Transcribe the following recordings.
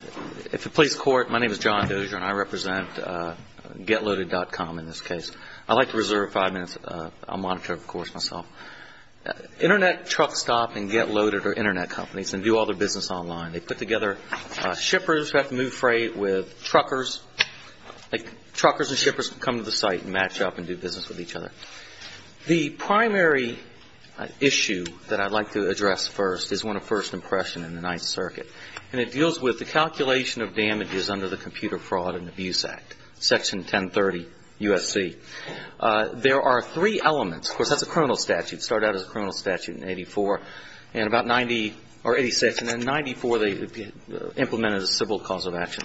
If it please the Court, my name is John Dozier and I represent Getloaded.com in this case. I'd like to reserve five minutes. I'll monitor, of course, myself. Internet truck stop and Getloaded are internet companies and do all their business online. They put together shippers who have to move freight with truckers. Truckers and shippers come to the site and match up and do business with each other. The primary issue that I'd like to address first is one of first impression in the Ninth Circuit. And it deals with the calculation of damages under the Computer Fraud and Abuse Act, Section 1030 U.S.C. There are three elements. Of course, that's a criminal statute. It started out as a criminal statute in 84. And about 90 or 86 and then 94 they implemented a civil cause of action.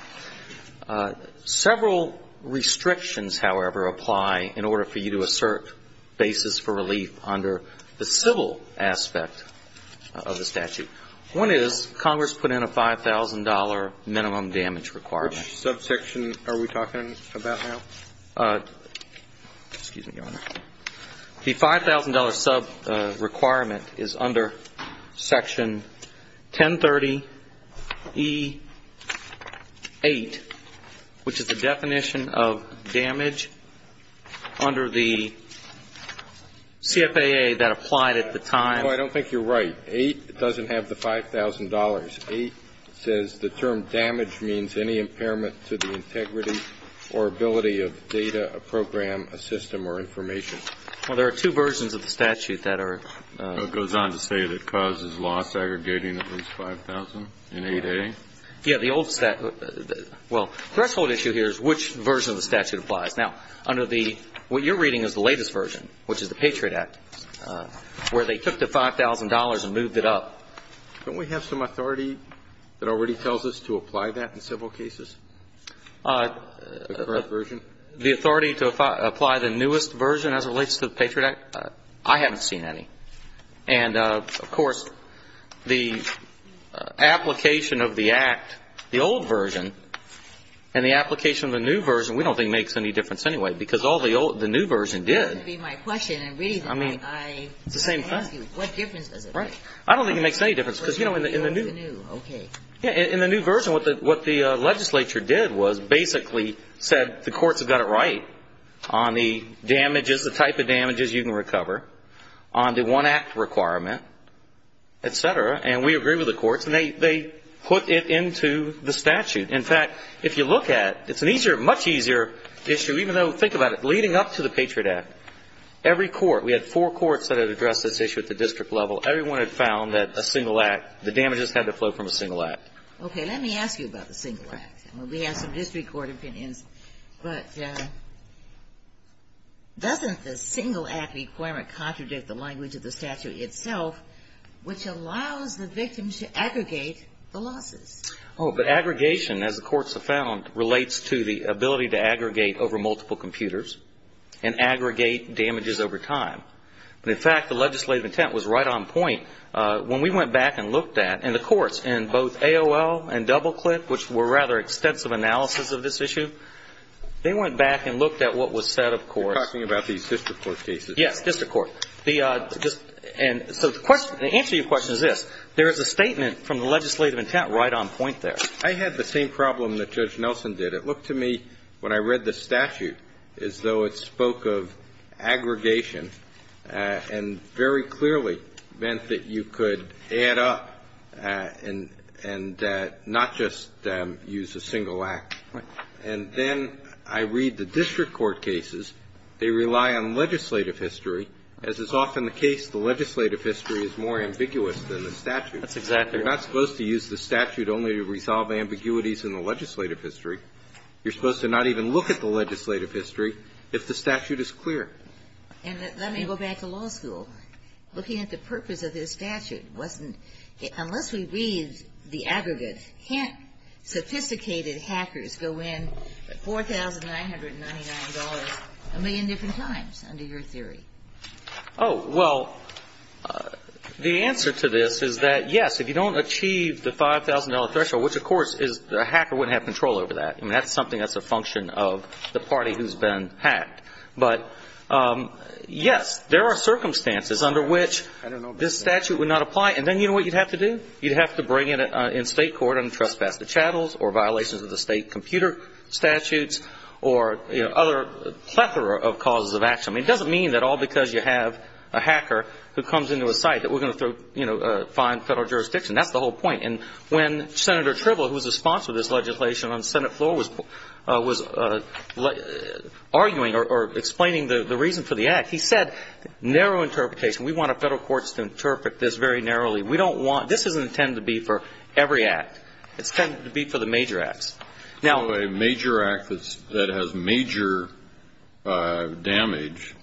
Several restrictions, however, apply in order for you to assert basis for relief under the civil aspect of the statute. One is Congress put in a $5,000 minimum damage requirement. Which subsection are we talking about now? Excuse me, Your Honor. The $5,000 subrequirement is under Section 1030E-8, which is the definition of damage under the CFAA that applied at the time. No, I don't think you're right. Eight doesn't have the $5,000. Eight says the term damage means any impairment to the integrity or ability of data, a program, a system, or information. Well, there are two versions of the statute that are... It goes on to say that it causes law segregating of its $5,000 in 8A. Yes, the old statute. Well, the threshold issue here is which version of the statute applies. Now, under the what you're reading is the latest version, which is the Patriot Act, where they took the $5,000 and moved it up. Don't we have some authority that already tells us to apply that in several cases, the current version? The authority to apply the newest version as it relates to the Patriot Act? I haven't seen any. And, of course, the application of the Act, the old version, and the application of the new version, we don't think makes any difference anyway, because all the new version did. That would be my question. I mean, it's the same thing. What difference does it make? I don't think it makes any difference because, you know, in the new version, what the legislature did was basically said the courts have got it right on the damages, what is the type of damages you can recover on the one Act requirement, et cetera, and we agree with the courts, and they put it into the statute. In fact, if you look at it, it's an easier, much easier issue, even though, think about it, leading up to the Patriot Act, every court, we had four courts that had addressed this issue at the district level, everyone had found that a single Act, the damages had to flow from a single Act. Okay. Let me ask you about the single Act. We have some district court opinions, but doesn't the single Act requirement contradict the language of the statute itself, which allows the victims to aggregate the losses? Oh, but aggregation, as the courts have found, relates to the ability to aggregate over multiple computers and aggregate damages over time. In fact, the legislative intent was right on point. When we went back and looked at, and the courts in both AOL and DoubleClick, which were rather extensive analysis of this issue, they went back and looked at what was said, of course. You're talking about these district court cases. Yes, district court. And so the answer to your question is this. There is a statement from the legislative intent right on point there. I had the same problem that Judge Nelson did. It looked to me, when I read the statute, as though it spoke of aggregation and very clearly meant that you could add up and not just use a single Act. And then I read the district court cases. They rely on legislative history. As is often the case, the legislative history is more ambiguous than the statute. That's exactly right. You're not supposed to use the statute only to resolve ambiguities in the legislative history. You're supposed to not even look at the legislative history if the statute is clear. And let me go back to law school. Looking at the purpose of this statute wasn't, unless we read the aggregate, can't sophisticated hackers go in $4,999 a million different times, under your theory? Oh, well, the answer to this is that, yes, if you don't achieve the $5,000 threshold, which, of course, a hacker wouldn't have control over that. I mean, that's something that's a function of the party who's been hacked. But, yes, there are circumstances under which this statute would not apply. And then you know what you'd have to do? You'd have to bring it in state court under trespass to chattels or violations of the state computer statutes or other plethora of causes of action. I mean, it doesn't mean that all because you have a hacker who comes into a site that we're going to find federal jurisdiction. That's the whole point. And when Senator Tribble, who was a sponsor of this legislation on the Senate floor, was arguing or explaining the reason for the act, he said, narrow interpretation, we want our federal courts to interpret this very narrowly. We don't want – this doesn't intend to be for every act. It's intended to be for the major acts. Now, a major act that's – that has major damage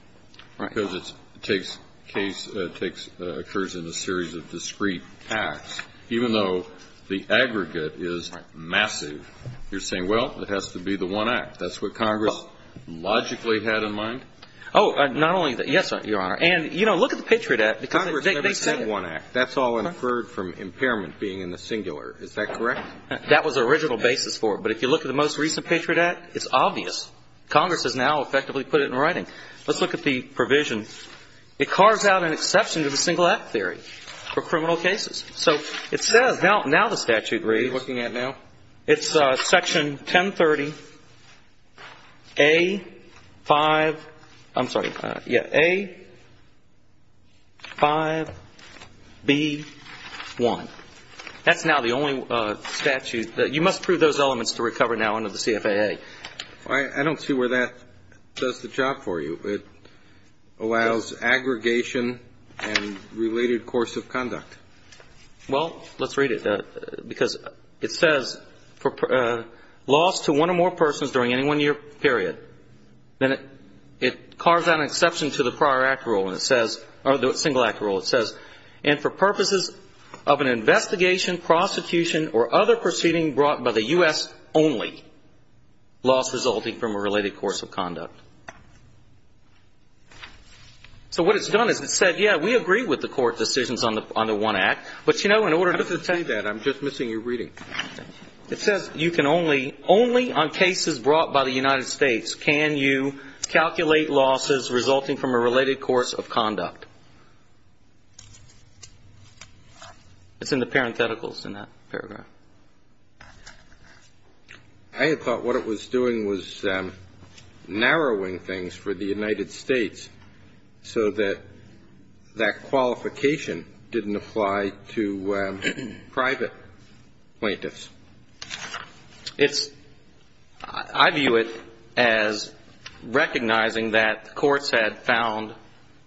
because it takes case – takes – occurs in a series of discrete acts, even though the aggregate is massive, you're saying, well, it has to be the one act. That's what Congress logically had in mind? Oh, not only that. Yes, Your Honor. And, you know, look at the Patriot Act. Congress never said one act. That's all inferred from impairment being in the singular. Is that correct? That was the original basis for it. But if you look at the most recent Patriot Act, it's obvious. Congress has now effectively put it in writing. Let's look at the provision. It carves out an exception to the single act theory for criminal cases. So it says – now the statute reads – What are you looking at now? It's section 1030A5 – I'm sorry. Yeah, A5B1. That's now the only statute that – you must prove those elements to recover now under the CFAA. I don't see where that does the job for you. It allows aggregation and related course of conduct. Well, let's read it because it says, for loss to one or more persons during any one year period, then it carves out an exception to the prior act rule and it says – or the single act rule. It says, and for purposes of an investigation, prosecution, or other proceeding brought by the U.S. only, loss resulting from a related course of conduct. So what it's done is it said, yeah, we agree with the court decisions on the one act. But, you know, in order to – I don't see that. I'm just missing your reading. It says you can only – only on cases brought by the United States can you calculate losses resulting from a related course of conduct. It's in the parentheticals in that paragraph. I had thought what it was doing was narrowing things for the United States so that that qualification didn't apply to private plaintiffs. It's – I view it as recognizing that courts had found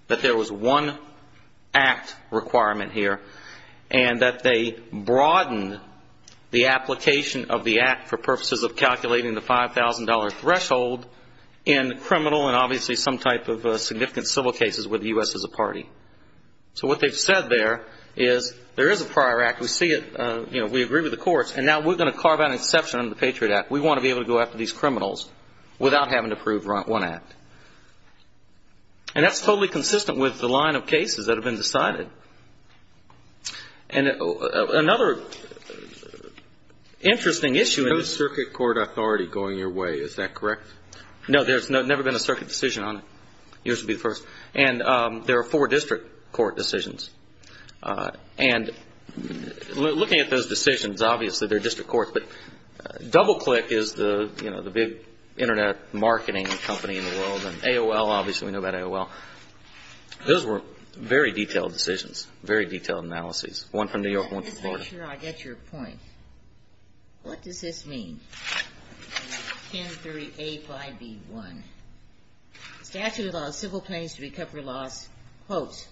that there was one act requirement here and that they broadened the application of the act for purposes of calculating the $5,000 threshold in criminal and obviously some type of significant civil cases with the U.S. as a party. So what they've said there is there is a prior act. We see it. You know, we agree with the courts. And now we're going to carve out an exception under the Patriot Act. We want to be able to go after these criminals without having to prove one act. And that's totally consistent with the line of cases that have been decided. And another interesting issue is – No circuit court authority going your way. Is that correct? No, there's never been a circuit decision on it. Yours would be the first. And there are four district court decisions. And looking at those decisions, obviously they're district courts, but DoubleClick is the big Internet marketing company in the world and AOL, obviously we know about AOL. Those were very detailed decisions, very detailed analyses, one from New York, one from Florida. I'm not sure I get your point. What does this mean? 1038 by B1. Statute of the law, civil claims to recover loss, quotes,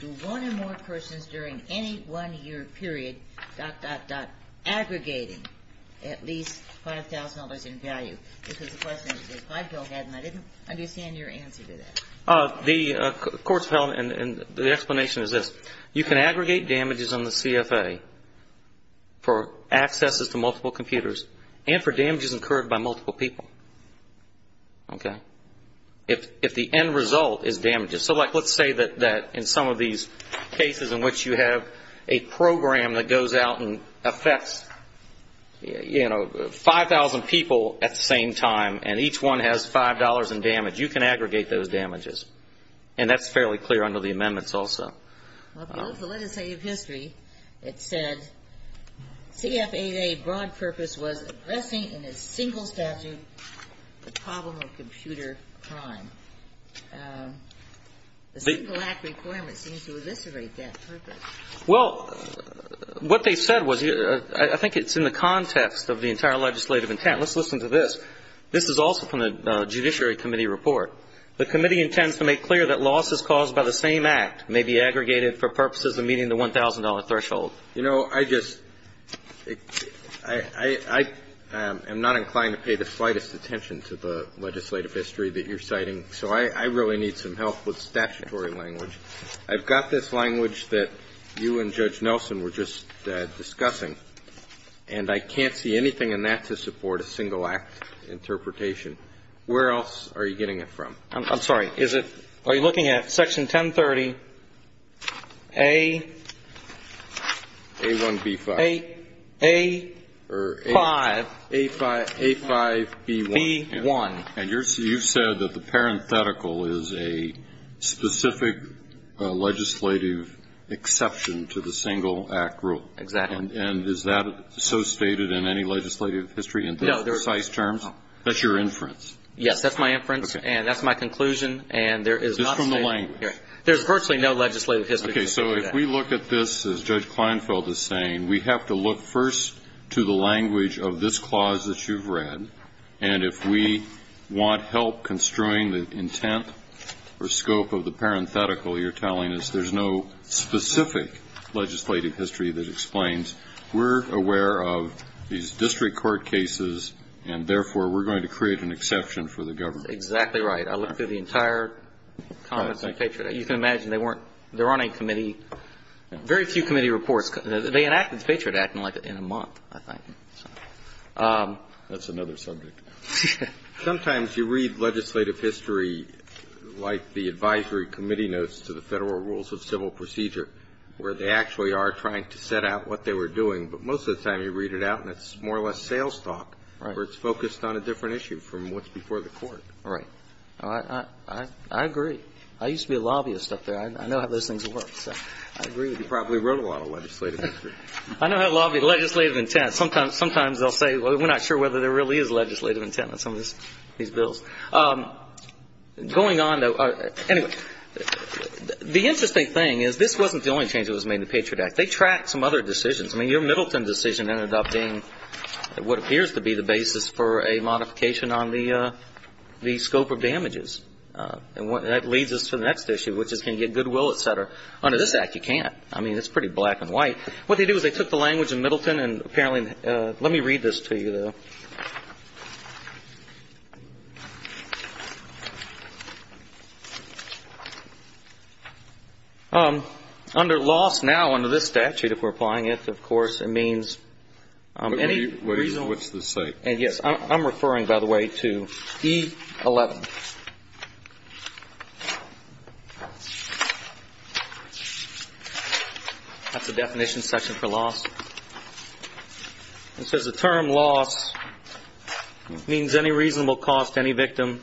do one or more persons during any one-year period, dot, dot, dot, aggregating at least $5,000 in value. This was a question that the five-year-old had, and I didn't understand your answer to that. The explanation is this. You can aggregate damages on the CFA for accesses to multiple computers and for damages incurred by multiple people, okay, if the end result is damages. So, like, let's say that in some of these cases in which you have a program that goes out and affects, you know, 5,000 people at the same time, and each one has $5 in damage, you can aggregate those damages. And that's fairly clear under the amendments also. Well, there's a legislative history that said CFAA broad purpose was addressing in a single statute the problem of computer crime. The single act requirement seems to eviscerate that purpose. Well, what they said was, I think it's in the context of the entire legislative intent. Let's listen to this. This is also from the Judiciary Committee report. The committee intends to make clear that losses caused by the same act may be aggregated for purposes of meeting the $1,000 threshold. You know, I just am not inclined to pay the slightest attention to the legislative history that you're citing, so I really need some help with statutory language. I've got this language that you and Judge Nelson were just discussing, and I can't see anything in that to support a single act interpretation. Where else are you getting it from? I'm sorry. Are you looking at Section 1030A? A1B5. A5B1. And you've said that the parenthetical is a specific legislative exception to the single act rule. Exactly. And is that so stated in any legislative history in precise terms? That's your inference. Yes, that's my inference. Okay. And that's my conclusion, and there is not stated here. It's from the language. There's virtually no legislative history to support that. Okay. So if we look at this, as Judge Kleinfeld is saying, we have to look first to the language of this clause that you've read, and if we want help construing the intent or scope of the parenthetical, you're telling us there's no specific legislative history that explains. We're aware of these district court cases, and therefore we're going to create an exception for the government. That's exactly right. I looked through the entire comments on Patriot Act. You can imagine they weren't they're on a committee. Very few committee reports. They enacted the Patriot Act in a month, I think. That's another subject. Sometimes you read legislative history like the advisory committee notes to the Federal Rules of Civil Procedure where they actually are trying to set out what they were doing, but most of the time you read it out and it's more or less sales talk where it's focused on a different issue from what's before the court. Right. I agree. I used to be a lobbyist up there. I know how those things work, so I agree. You probably wrote a lot of legislative history. I know how to lobby legislative intent. Sometimes they'll say, well, we're not sure whether there really is legislative intent on some of these bills. Anyway, the interesting thing is this wasn't the only change that was made in the Patriot Act. They tracked some other decisions. I mean, your Middleton decision ended up being what appears to be the basis for a modification on the scope of damages. And that leads us to the next issue, which is can you get goodwill, et cetera. Under this Act, you can't. I mean, it's pretty black and white. What they do is they took the language in Middleton and apparently let me read this to you, though. Under loss now under this statute, if we're applying it, of course, it means any reason. What's this say? Yes, I'm referring, by the way, to E11. That's the definition section for loss. It says the term loss means any reasonable cost to any victim,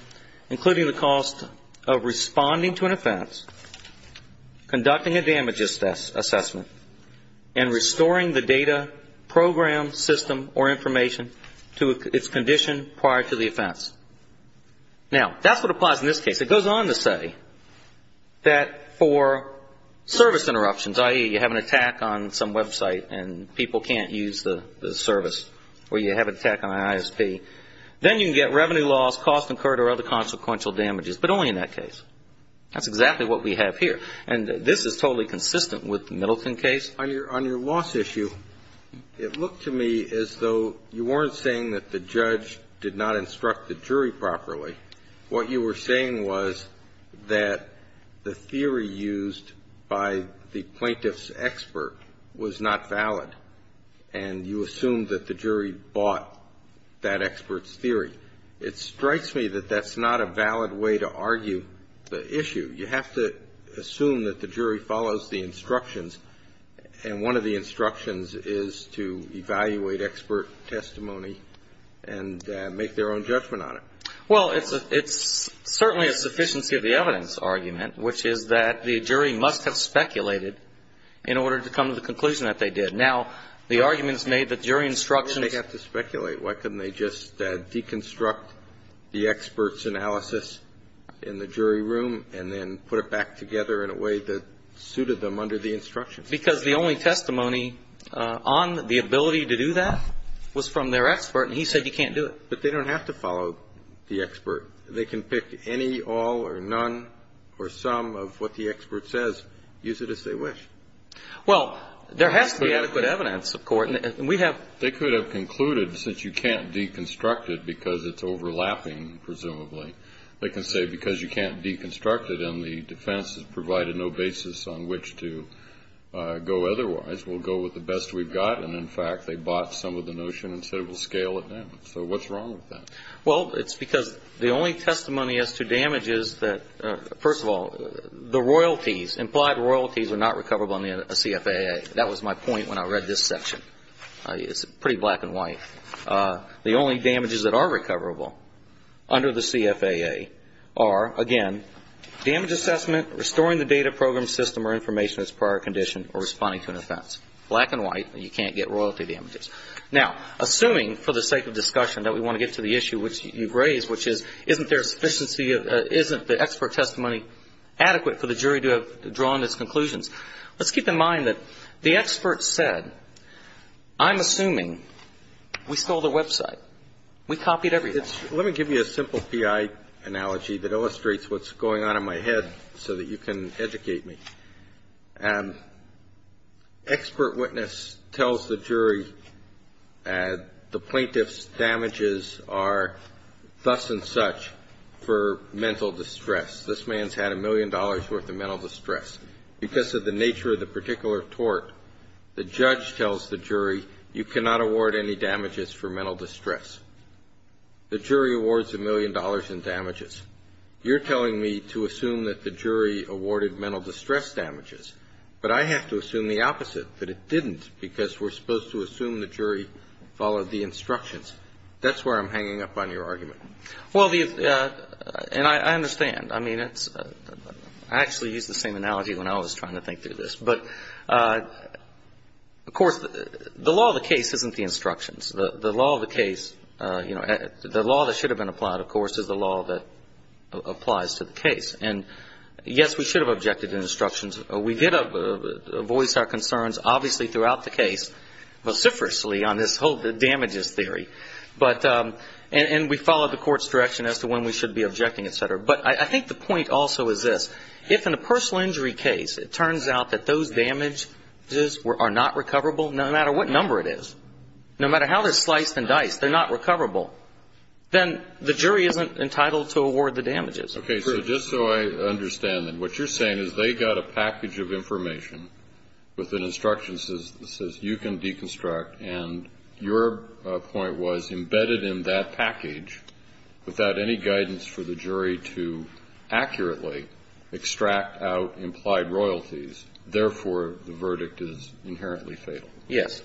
including the cost of responding to an offense, conducting a damages assessment, and restoring the data, program, system, or information to its condition prior to the offense. Now, that's what applies in this case. It goes on to say that for service interruptions, i.e., you have an attack on some website and people can't use the service or you have an attack on an ISP, then you can get revenue loss, cost incurred, or other consequential damages, but only in that case. That's exactly what we have here. And this is totally consistent with the Middleton case. On your loss issue, it looked to me as though you weren't saying that the judge did not instruct the jury properly. What you were saying was that the theory used by the plaintiff's expert was not valid, and you assumed that the jury bought that expert's theory. It strikes me that that's not a valid way to argue the issue. You have to assume that the jury follows the instructions, and one of the instructions is to evaluate expert testimony and make their own judgment on it. Well, it's certainly a sufficiency of the evidence argument, which is that the jury must have speculated in order to come to the conclusion that they did. Now, the argument is made that jury instructions… Why would they have to speculate? Why couldn't they just deconstruct the expert's analysis in the jury room and then put it back together in a way that suited them under the instructions? Because the only testimony on the ability to do that was from their expert, and he said you can't do it. But they don't have to follow the expert. They can pick any, all, or none, or some of what the expert says. Use it as they wish. Well, there has to be adequate evidence, of course. And we have… They could have concluded since you can't deconstruct it because it's overlapping, presumably. They can say because you can't deconstruct it and the defense has provided no basis on which to go otherwise, we'll go with the best we've got. And, in fact, they bought some of the notion and said we'll scale it down. So what's wrong with that? Well, it's because the only testimony as to damages that… First of all, the royalties, implied royalties are not recoverable under the CFAA. That was my point when I read this section. It's pretty black and white. The only damages that are recoverable under the CFAA are, again, damage assessment, restoring the data program system or information that's prior condition, or responding to an offense. Black and white, you can't get royalty damages. Now, assuming for the sake of discussion that we want to get to the issue which you've raised, which is isn't there a sufficiency of… Isn't the expert testimony adequate for the jury to have drawn its conclusions? Let's keep in mind that the expert said, I'm assuming we stole their website. We copied everything. Let me give you a simple PI analogy that illustrates what's going on in my head so that you can educate me. Expert witness tells the jury the plaintiff's damages are thus and such for mental distress. This man's had a million dollars' worth of mental distress. Because of the nature of the particular tort, the judge tells the jury, you cannot award any damages for mental distress. The jury awards a million dollars in damages. You're telling me to assume that the jury awarded mental distress damages, but I have to assume the opposite, that it didn't, because we're supposed to assume the jury followed the instructions. That's where I'm hanging up on your argument. Well, the – and I understand. I mean, it's – I actually used the same analogy when I was trying to think through this. But, of course, the law of the case isn't the instructions. The law of the case – the law that should have been applied, of course, is the law that applies to the case. And, yes, we should have objected to instructions. We did voice our concerns, obviously, throughout the case vociferously on this whole damages theory. But – and we followed the court's direction as to when we should be objecting, et cetera. But I think the point also is this. If in a personal injury case it turns out that those damages are not recoverable, no matter what number it is, no matter how they're sliced and diced, they're not recoverable, then the jury isn't entitled to award the damages. Okay. So just so I understand that, what you're saying is they got a package of information with an instruction that says you can deconstruct, and your point was embedded in that package without any guidance for the jury to accurately extract out implied royalties. Therefore, the verdict is inherently fatal. Yes.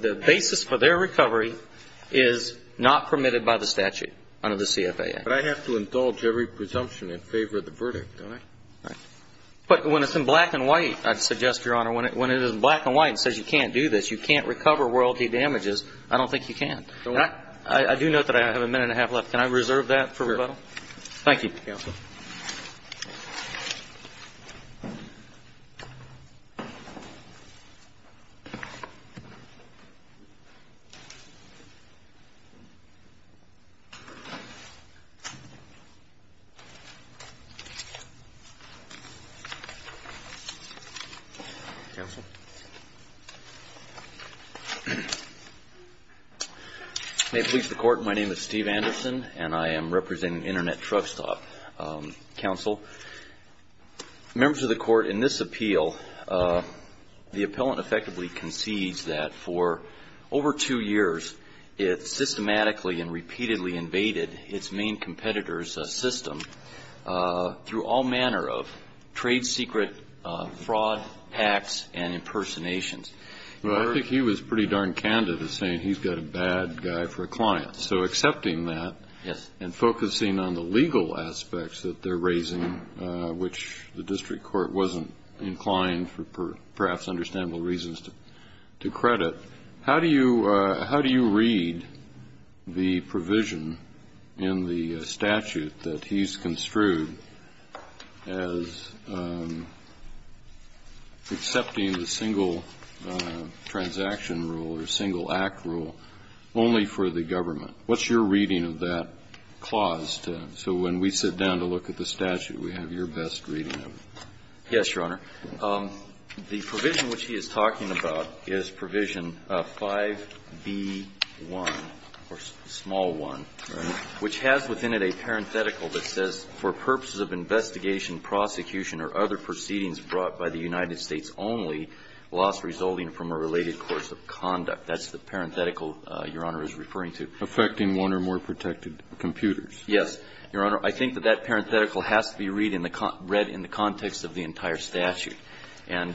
The basis for their recovery is not permitted by the statute under the CFAA. But I have to indulge every presumption in favor of the verdict, don't I? Right. But when it's in black and white, I'd suggest, Your Honor, when it is in black and white and says you can't do this, you can't recover royalty damages, I don't think you can. I do note that I have a minute and a half left. Can I reserve that for rebuttal? Sure. Thank you. Thank you, counsel. May it please the Court, my name is Steve Anderson, and I am representing Internet Truck Stop. Counsel, members of the Court, in this appeal, the appellant effectively concedes that for over two years, it systematically and repeatedly invaded its main competitor's system through all manner of trade secret fraud, hacks, and impersonations. Well, I think he was pretty darn candid in saying he's got a bad guy for a client. So accepting that and focusing on the legal aspects that they're raising, which the district court wasn't inclined for perhaps understandable reasons to credit, How do you read the provision in the statute that he's construed as accepting the single transaction rule or single act rule only for the government? What's your reading of that clause? So when we sit down to look at the statute, we have your best reading of it. Yes, Your Honor. The provision which he is talking about is provision 5B1, or small 1, which has within it a parenthetical that says, For purposes of investigation, prosecution, or other proceedings brought by the United States only, loss resulting from a related course of conduct. That's the parenthetical Your Honor is referring to. Affecting one or more protected computers. Yes, Your Honor. I think that that parenthetical has to be read in the context of the entire statute. And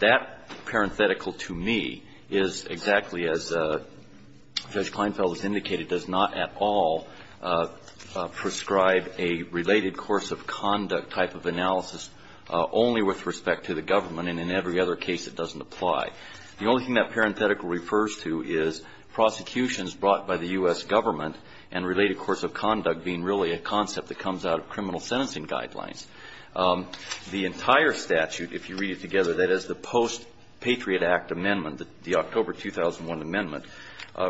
that parenthetical, to me, is exactly as Judge Kleinfeld has indicated, does not at all prescribe a related course of conduct type of analysis only with respect to the government, and in every other case it doesn't apply. The only thing that parenthetical refers to is prosecutions brought by the U.S. government, and related course of conduct being really a concept that comes out of criminal sentencing guidelines. The entire statute, if you read it together, that is the post-Patriot Act amendment, the October 2001 amendment,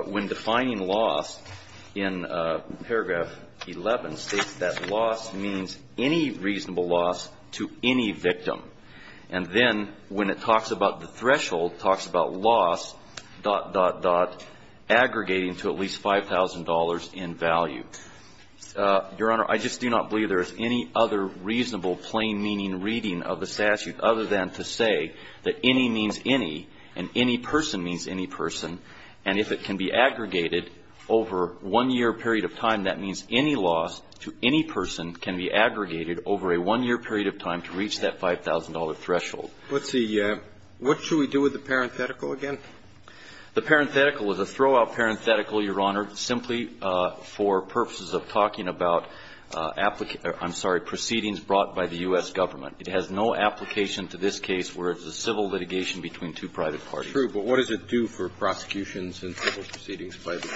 when defining loss in paragraph 11 states that loss means any reasonable loss to any victim. And then when it talks about the threshold, talks about loss, dot, dot, dot, aggregating to at least $5,000 in value. Your Honor, I just do not believe there is any other reasonable plain-meaning reading of the statute other than to say that any means any, and any person means any person. And if it can be aggregated over one year period of time, that means any loss to any person can be aggregated over a one-year period of time to reach that $5,000 threshold. Let's see. What should we do with the parenthetical again? The parenthetical is a throw-out parenthetical, Your Honor, simply for purposes of talking about applicants or, I'm sorry, proceedings brought by the U.S. government. It has no application to this case where it's a civil litigation between two private parties. True. But what does it do for prosecutions and civil proceedings by the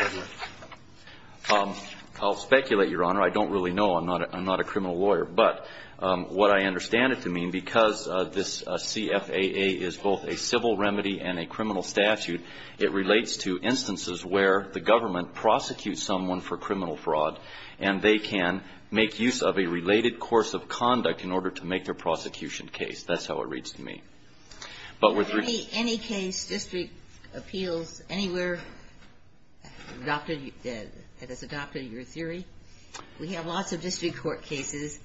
government? I'll speculate, Your Honor. I don't really know. I'm not a criminal lawyer. But what I understand it to mean, because this CFAA is both a civil remedy and a criminal statute, it relates to instances where the government prosecutes someone for criminal fraud, and they can make use of a related course of conduct in order to make their prosecution case. That's how it reads to me. Any case, district appeals anywhere that has adopted your theory? We have lots of district court cases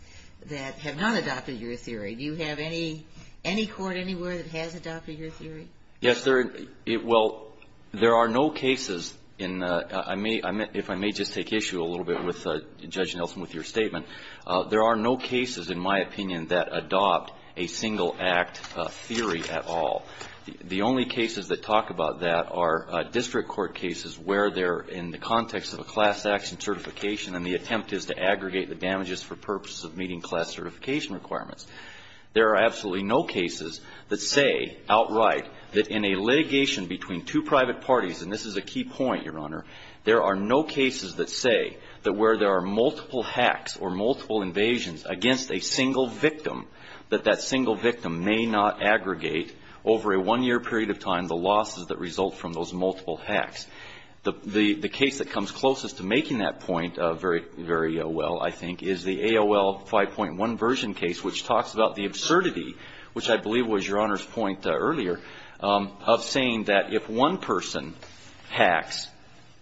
that have not adopted your theory. Do you have any court anywhere that has adopted your theory? Yes. Well, there are no cases in the – if I may just take issue a little bit with Judge Nelson with your statement. There are no cases, in my opinion, that adopt a single-act theory at all. The only cases that talk about that are district court cases where they're in the context of a class action certification, and the attempt is to aggregate the damages for purposes of meeting class certification requirements. There are absolutely no cases that say outright that in a litigation between two private parties, and this is a key point, Your Honor, there are no cases that say that where there are multiple hacks or multiple invasions against a single victim, that that single victim may not aggregate over a one-year period of time the losses that result from those multiple hacks. The case that comes closest to making that point very well, I think, is the AOL 5.1 conversion case, which talks about the absurdity, which I believe was Your Honor's point earlier, of saying that if one person hacks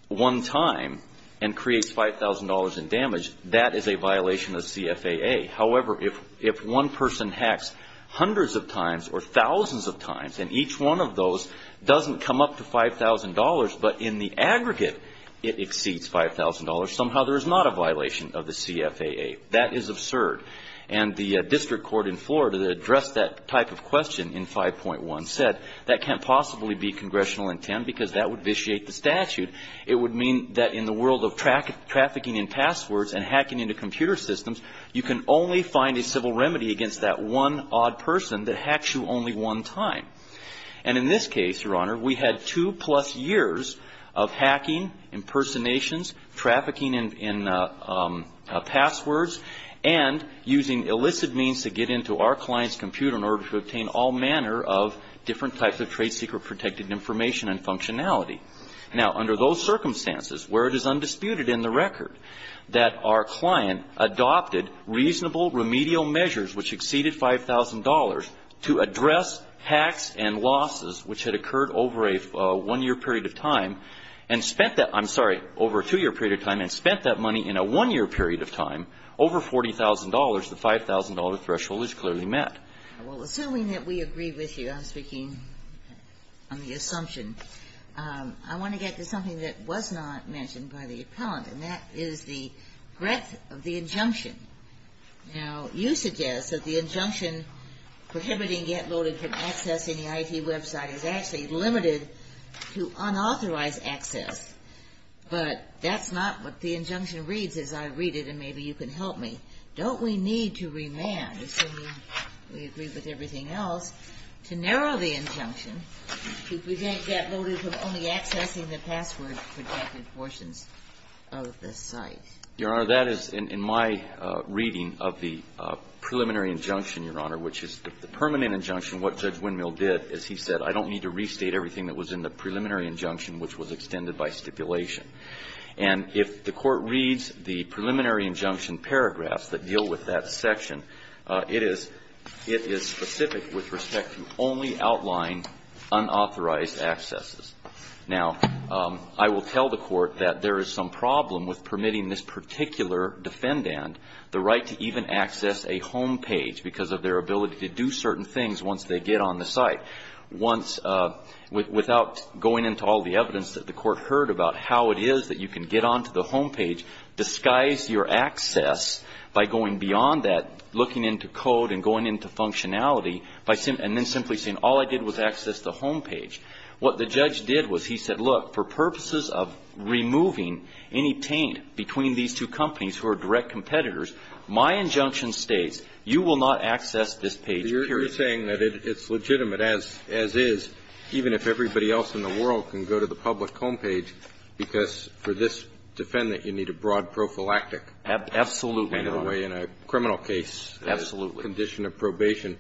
one time and creates $5,000 in damage, that is a violation of CFAA. However, if one person hacks hundreds of times or thousands of times, and each one of those doesn't come up to $5,000, but in the aggregate it exceeds $5,000, somehow there is not a violation of the CFAA. That is absurd. And the district court in Florida that addressed that type of question in 5.1 said that can't possibly be congressional intent because that would vitiate the statute. It would mean that in the world of trafficking in passwords and hacking into computer systems, you can only find a civil remedy against that one odd person that hacks you only one time. And in this case, Your Honor, we had two-plus years of hacking, impersonations, trafficking in passwords, and using illicit means to get into our client's computer in order to obtain all manner of different types of trade secret protected information and functionality. Now, under those circumstances where it is undisputed in the record that our client adopted reasonable remedial measures which exceeded $5,000 to address hacks and losses which had in a one-year period of time, over $40,000, the $5,000 threshold is clearly met. Well, assuming that we agree with you on speaking on the assumption, I want to get to something that was not mentioned by the appellant, and that is the breadth of the injunction. Now, you suggest that the injunction prohibiting get loaded from accessing the IT website is actually limited to unauthorized access. But that's not what the injunction reads, as I read it, and maybe you can help me. Don't we need to remand, assuming we agree with everything else, to narrow the injunction to prevent get loaded from only accessing the password-protected portions of the site? Your Honor, that is, in my reading of the preliminary injunction, Your Honor, which is the permanent injunction, what Judge Windmill did is he said, I don't need to restate everything that was in the preliminary injunction which was extended by stipulation. And if the Court reads the preliminary injunction paragraphs that deal with that section, it is specific with respect to only outline unauthorized accesses. Now, I will tell the Court that there is some problem with permitting this particular defendant the right to even access a homepage because of their ability to do certain things once they get on the site, without going into all the evidence that the Court heard about how it is that you can get onto the homepage, disguise your access by going beyond that, looking into code and going into functionality, and then simply saying all I did was access the homepage. What the judge did was he said, look, for purposes of removing any taint between these two companies who are direct competitors, my injunction states you will not access this page, period. You're saying that it's legitimate, as is, even if everybody else in the world can go to the public homepage, because for this defendant, you need a broad prophylactic. Absolutely, Your Honor. In a way, in a criminal case. Absolutely. The condition of probation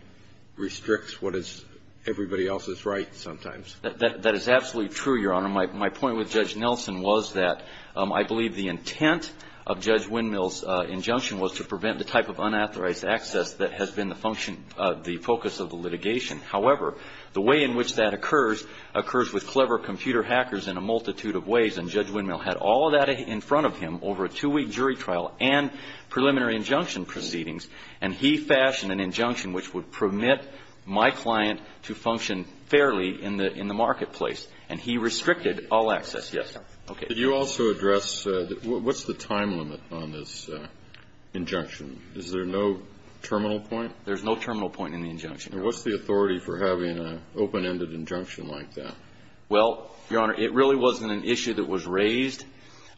restricts what is everybody else's right sometimes. That is absolutely true, Your Honor. My point with Judge Nelson was that I believe the intent of Judge Windmill's injunction was to prevent the type of unauthorized access that has been the focus of the litigation. However, the way in which that occurs, occurs with clever computer hackers in a multitude of ways, and Judge Windmill had all that in front of him over a two-week jury trial and preliminary injunction proceedings, and he fashioned an injunction which would permit my client to function fairly in the marketplace. And he restricted all access. Yes. Okay. Did you also address what's the time limit on this injunction? Is there no terminal point? There's no terminal point in the injunction, Your Honor. And what's the authority for having an open-ended injunction like that? Well, Your Honor, it really wasn't an issue that was raised,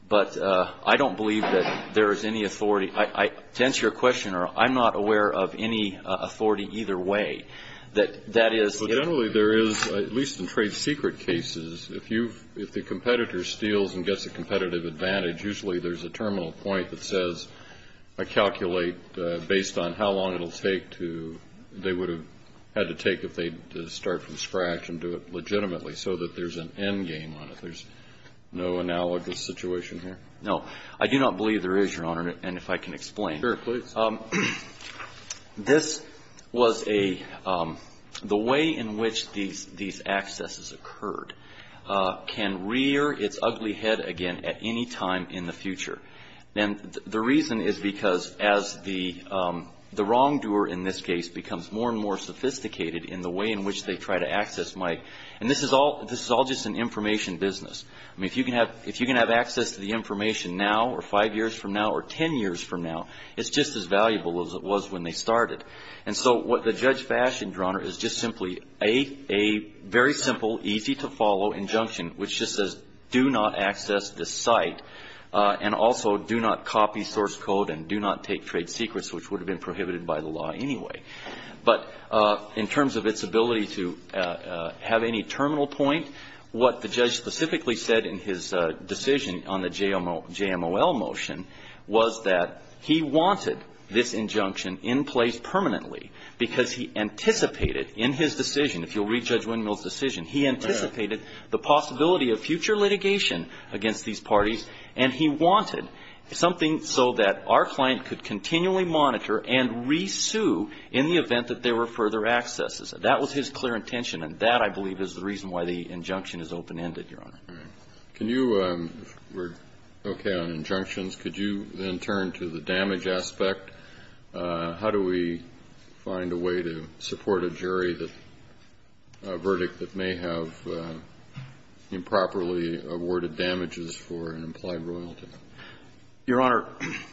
but I don't believe that there is any authority. To answer your question, I'm not aware of any authority either way. Generally, there is, at least in trade secret cases, if the competitor steals and gets a competitive advantage, usually there's a terminal point that says, I calculate based on how long it will take to they would have had to take if they start from scratch and do it legitimately, so that there's an end game on it. There's no analogous situation here? No. I do not believe there is, Your Honor, and if I can explain. Sure, please. This was a the way in which these accesses occurred can rear its ugly head again at any time in the future. And the reason is because as the wrongdoer in this case becomes more and more sophisticated in the way in which they try to access Mike, and this is all just an information business. I mean, if you can have access to the information now or five years from now or ten years from now, it's just as valuable as it was when they started. And so what the judge fashioned, Your Honor, is just simply a very simple, easy-to-follow injunction, which just says do not access this site and also do not copy source code and do not take trade secrets, which would have been prohibited by the law anyway. But in terms of its ability to have any terminal point, what the judge specifically said in his decision on the JMOL motion was that he wanted this injunction in place permanently because he anticipated in his decision, if you'll read Judge Windmill's decision, he anticipated the possibility of future litigation against these parties, and he wanted something so that our client could continually monitor and re-sue in the event that there were further accesses. That was his clear intention, and that, I believe, is the reason why the injunction is open-ended, Your Honor. Can you, if we're okay on injunctions, could you then turn to the damage aspect? How do we find a way to support a jury that a verdict that may have improperly awarded damages for an implied royalty? Your Honor,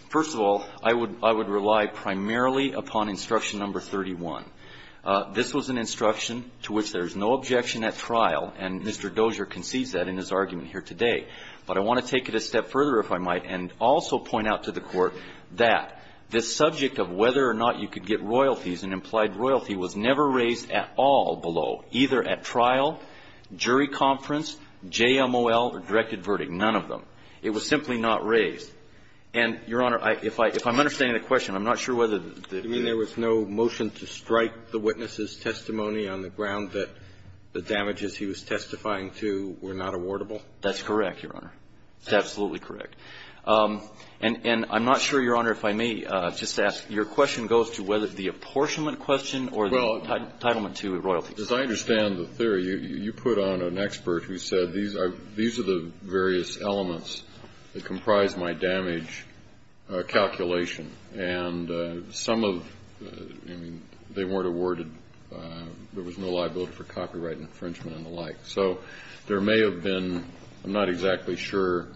first of all, I would rely primarily upon instruction number 31. This was an instruction to which there is no objection at trial, and Mr. Dozier concedes that in his argument here today. But I want to take it a step further, if I might, and also point out to the Court that this subject of whether or not you could get royalties, an implied royalty, was never raised at all below, either at trial, jury conference, JMOL, or directed verdict, none of them. It was simply not raised. And, Your Honor, if I'm understanding the question, I'm not sure whether the ---- I'm not sure whether the question goes to whether the apportionment question or the entitlement to royalties. Well, as I understand the theory, you put on an expert who said, these are the various elements that comprise my damage calculation, and some of the ---- I mean, they weren't question or the entitlement to royalties. The Court awarded ---- there was no liability for copyright infringement and the like. So there may have been ---- I'm not exactly sure,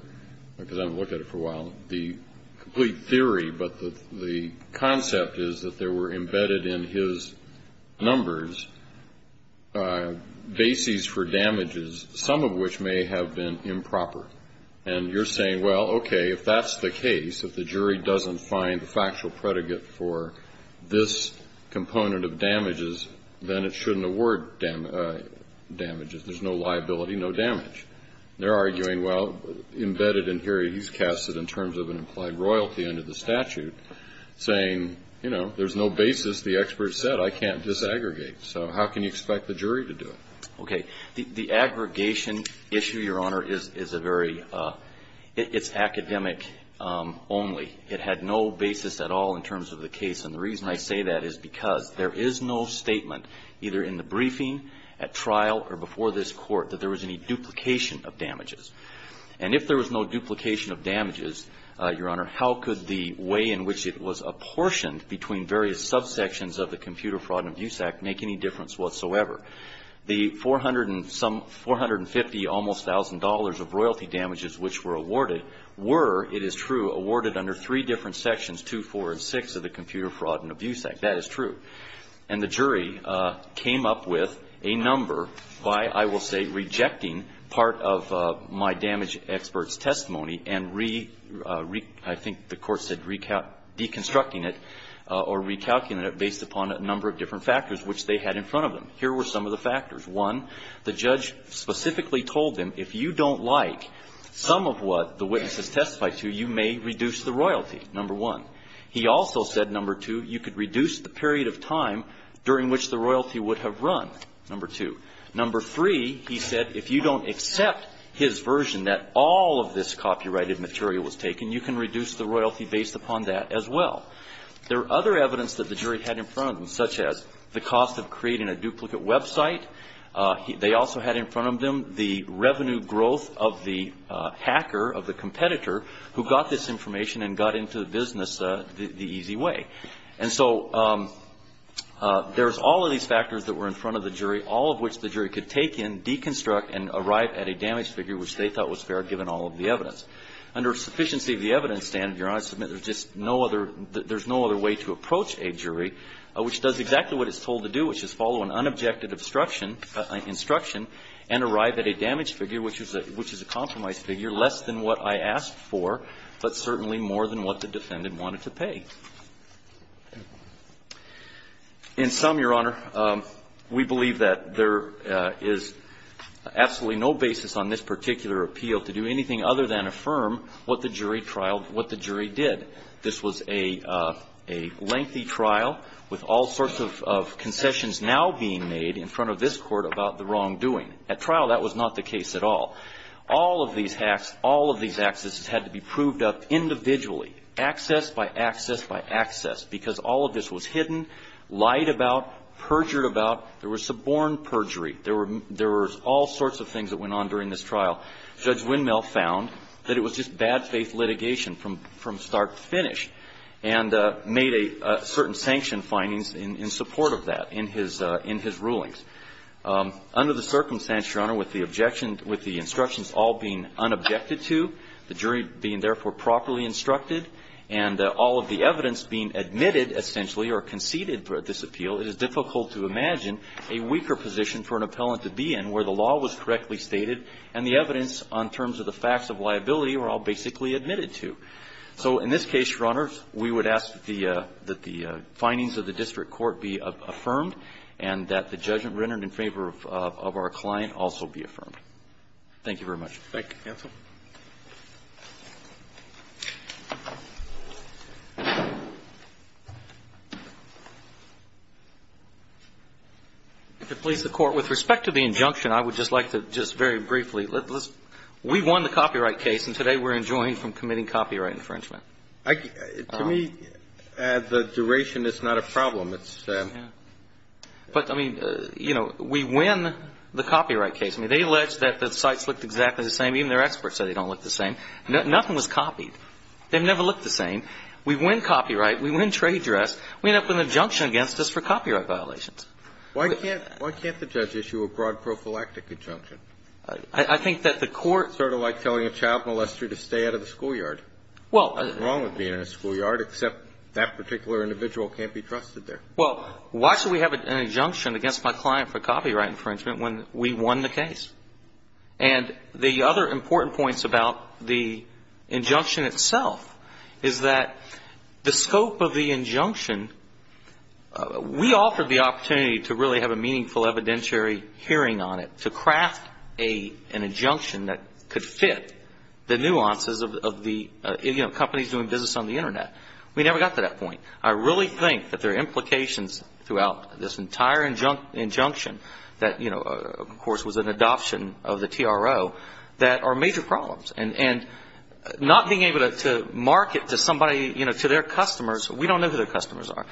because I haven't looked at it for a while, the complete theory, but the concept is that there were embedded in his numbers bases for damages, some of which may have been improper. And you're saying, well, okay, if that's the case, if the jury doesn't find the factual predicate for this component of damages, then it shouldn't award damages. There's no liability, no damage. They're arguing, well, embedded in here, he's cast it in terms of an implied royalty under the statute, saying, you know, there's no basis. The expert said, I can't disaggregate. So how can you expect the jury to do it? Okay. The aggregation issue, Your Honor, is a very ---- it's academic only. It had no basis at all in terms of the case. And the reason I say that is because there is no statement, either in the briefing, at trial, or before this Court, that there was any duplication of damages. And if there was no duplication of damages, Your Honor, how could the way in which it was apportioned between various subsections of the Computer Fraud and Abuse Act make any difference whatsoever? The 450 almost thousand dollars of royalty damages which were awarded were, it is true, awarded under three different sections, 2, 4, and 6 of the Computer Fraud and Abuse Act. That is true. And the jury came up with a number by, I will say, rejecting part of my damage expert's testimony and, I think the Court said, deconstructing it or recalculating it based upon a number of different factors which they had in front of them. Here were some of the factors. One, the judge specifically told them, if you don't like some of what the witness testified to, you may reduce the royalty, number one. He also said, number two, you could reduce the period of time during which the royalty would have run, number two. Number three, he said, if you don't accept his version that all of this copyrighted material was taken, you can reduce the royalty based upon that as well. There are other evidence that the jury had in front of them, such as the cost of creating a duplicate website. They also had in front of them the revenue growth of the hacker, of the competitor who got this information and got into the business the easy way. And so there's all of these factors that were in front of the jury, all of which the jury could take in, deconstruct, and arrive at a damage figure which they thought was fair given all of the evidence. Under sufficiency of the evidence standard, Your Honor, I submit there's just no other – there's no other way to approach a jury which does exactly what it's told to do, which is follow an unobjected obstruction – instruction and arrive at a damage figure, which is a – which is a compromise figure, less than what I asked for, but certainly more than what the defendant wanted to pay. In sum, Your Honor, we believe that there is absolutely no basis on this particular appeal to do anything other than affirm what the jury trialed, what the jury did. This was a lengthy trial with all sorts of concessions now being made in front of this court about the wrongdoing. At trial, that was not the case at all. All of these hacks, all of these accesses had to be proved up individually, access by access by access, because all of this was hidden, lied about, perjured about. There was suborn perjury. There were – there was all sorts of things that went on during this trial. Judge Windmill found that it was just bad faith litigation from – from start to finish and made a certain sanction findings in support of that in his – in his rulings. Under the circumstance, Your Honor, with the objection – with the instructions all being unobjected to, the jury being therefore properly instructed, and all of the evidence being admitted, essentially, or conceded for this appeal, it is difficult to imagine a weaker position for an appellant to be in where the law was correctly stated and the evidence on terms of the facts of liability were all basically admitted to. So in this case, Your Honor, we would ask the – that the findings of the district court be affirmed and that the judgment rendered in favor of our client also be affirmed. Thank you very much. Thank you, counsel. If it please the Court, with respect to the injunction, I would just like to just very briefly point out that, to me, the duration is not a problem. It's… Yeah. But, I mean, you know, we win the copyright case. I mean, they allege that the sites looked exactly the same. Even their experts said they don't look the same. Nothing was copied. They've never looked the same. We win copyright. We win trade dress. We end up with an injunction against us for copyright violations. Why can't – why can't the judge issue a broad prophylactic injunction? I think that the Court – Sort of like telling a child molester to stay out of the schoolyard. Well… Nothing wrong with being in a schoolyard, except that particular individual can't be trusted there. Well, why should we have an injunction against my client for copyright infringement when we won the case? And the other important points about the injunction itself is that the scope of the injunction – we offered the opportunity to really have a meaningful evidentiary hearing on it, to craft an injunction that could fit the nuances of the – you know, companies doing business on the Internet. We never got to that point. I really think that there are implications throughout this entire injunction that, you know, of course, was an adoption of the TRO that are major problems. And not being able to market to somebody – you know, to their customers – we don't know who their customers are.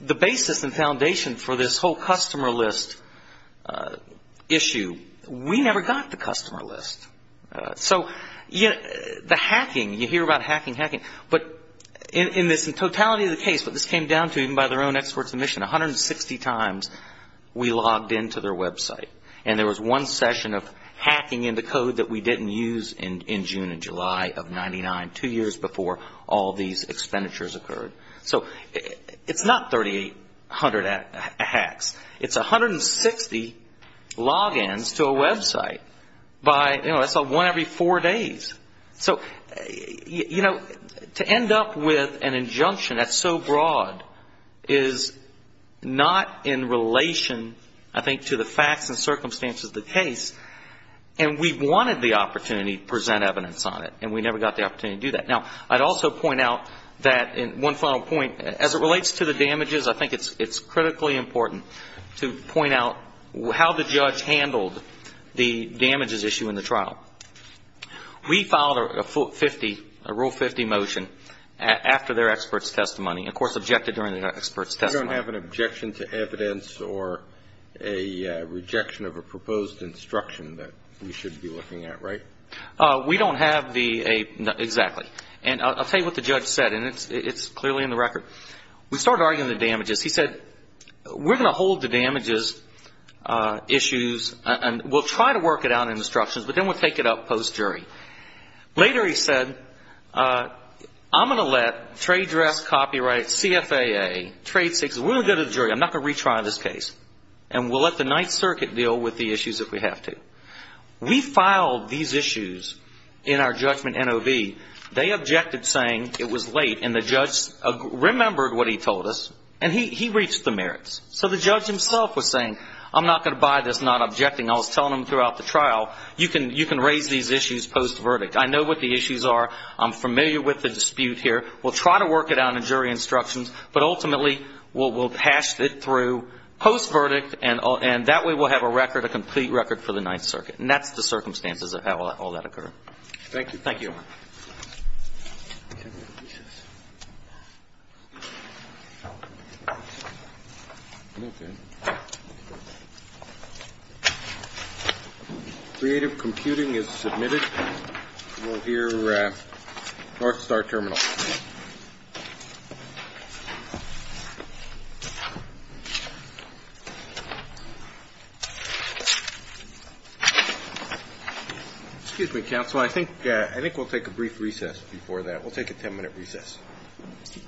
The basis and foundation for this whole customer list issue – we never got the customer list. So, you know, the hacking – you hear about hacking, hacking. But in this – in totality of the case, what this came down to, even by their own experts in the mission, 160 times we logged into their website. And there was one session of hacking into code that we didn't use in June and July of 99, two years before all these expenditures occurred. So it's not 3,800 hacks. It's 160 logins to a website by – you know, that's one every four days. So, you know, to end up with an injunction that's so broad is not in relation, I think, to the facts and circumstances of the case. And we wanted the opportunity to present evidence on it, and we never got the opportunity to do that. Now, I'd also point out that – one final point. As it relates to the damages, I think it's critically important to point out how the judge handled the damages issue in the trial. We filed a Rule 50 motion after their expert's testimony, of course, objected during their expert's testimony. You don't have an objection to evidence or a rejection of a proposed instruction that we should be looking at, right? We don't have the – exactly. And I'll tell you what the judge said, and it's clearly in the record. We started arguing the damages. He said, we're going to hold the damages issues, and we'll try to work it out in instructions, but then we'll take it up post-jury. Later he said, I'm going to let trade dress, copyright, CFAA, trade – we're going to go to the jury. I'm not going to retry this case. And we'll let the Ninth Circuit deal with the issues if we have to. We filed these issues in our judgment NOV. They objected, saying it was late, and the judge remembered what he told us, and he reached the merits. So the judge himself was saying, I'm not going to buy this not objecting. I was telling him throughout the trial, you can raise these issues post-verdict. I know what the issues are. I'm familiar with the dispute here. We'll try to work it out in jury instructions, but ultimately we'll pass it through post-verdict, and that way we'll have a record, a complete record for the Ninth Circuit. And that's the circumstances of how all that occurred. Thank you. Thank you. Creative Computing is submitted. We'll hear North Star Terminal. Excuse me, counsel. I think we'll take a brief recess before that. We'll take a 10-minute recess. Thank you. Thank you. Thank you.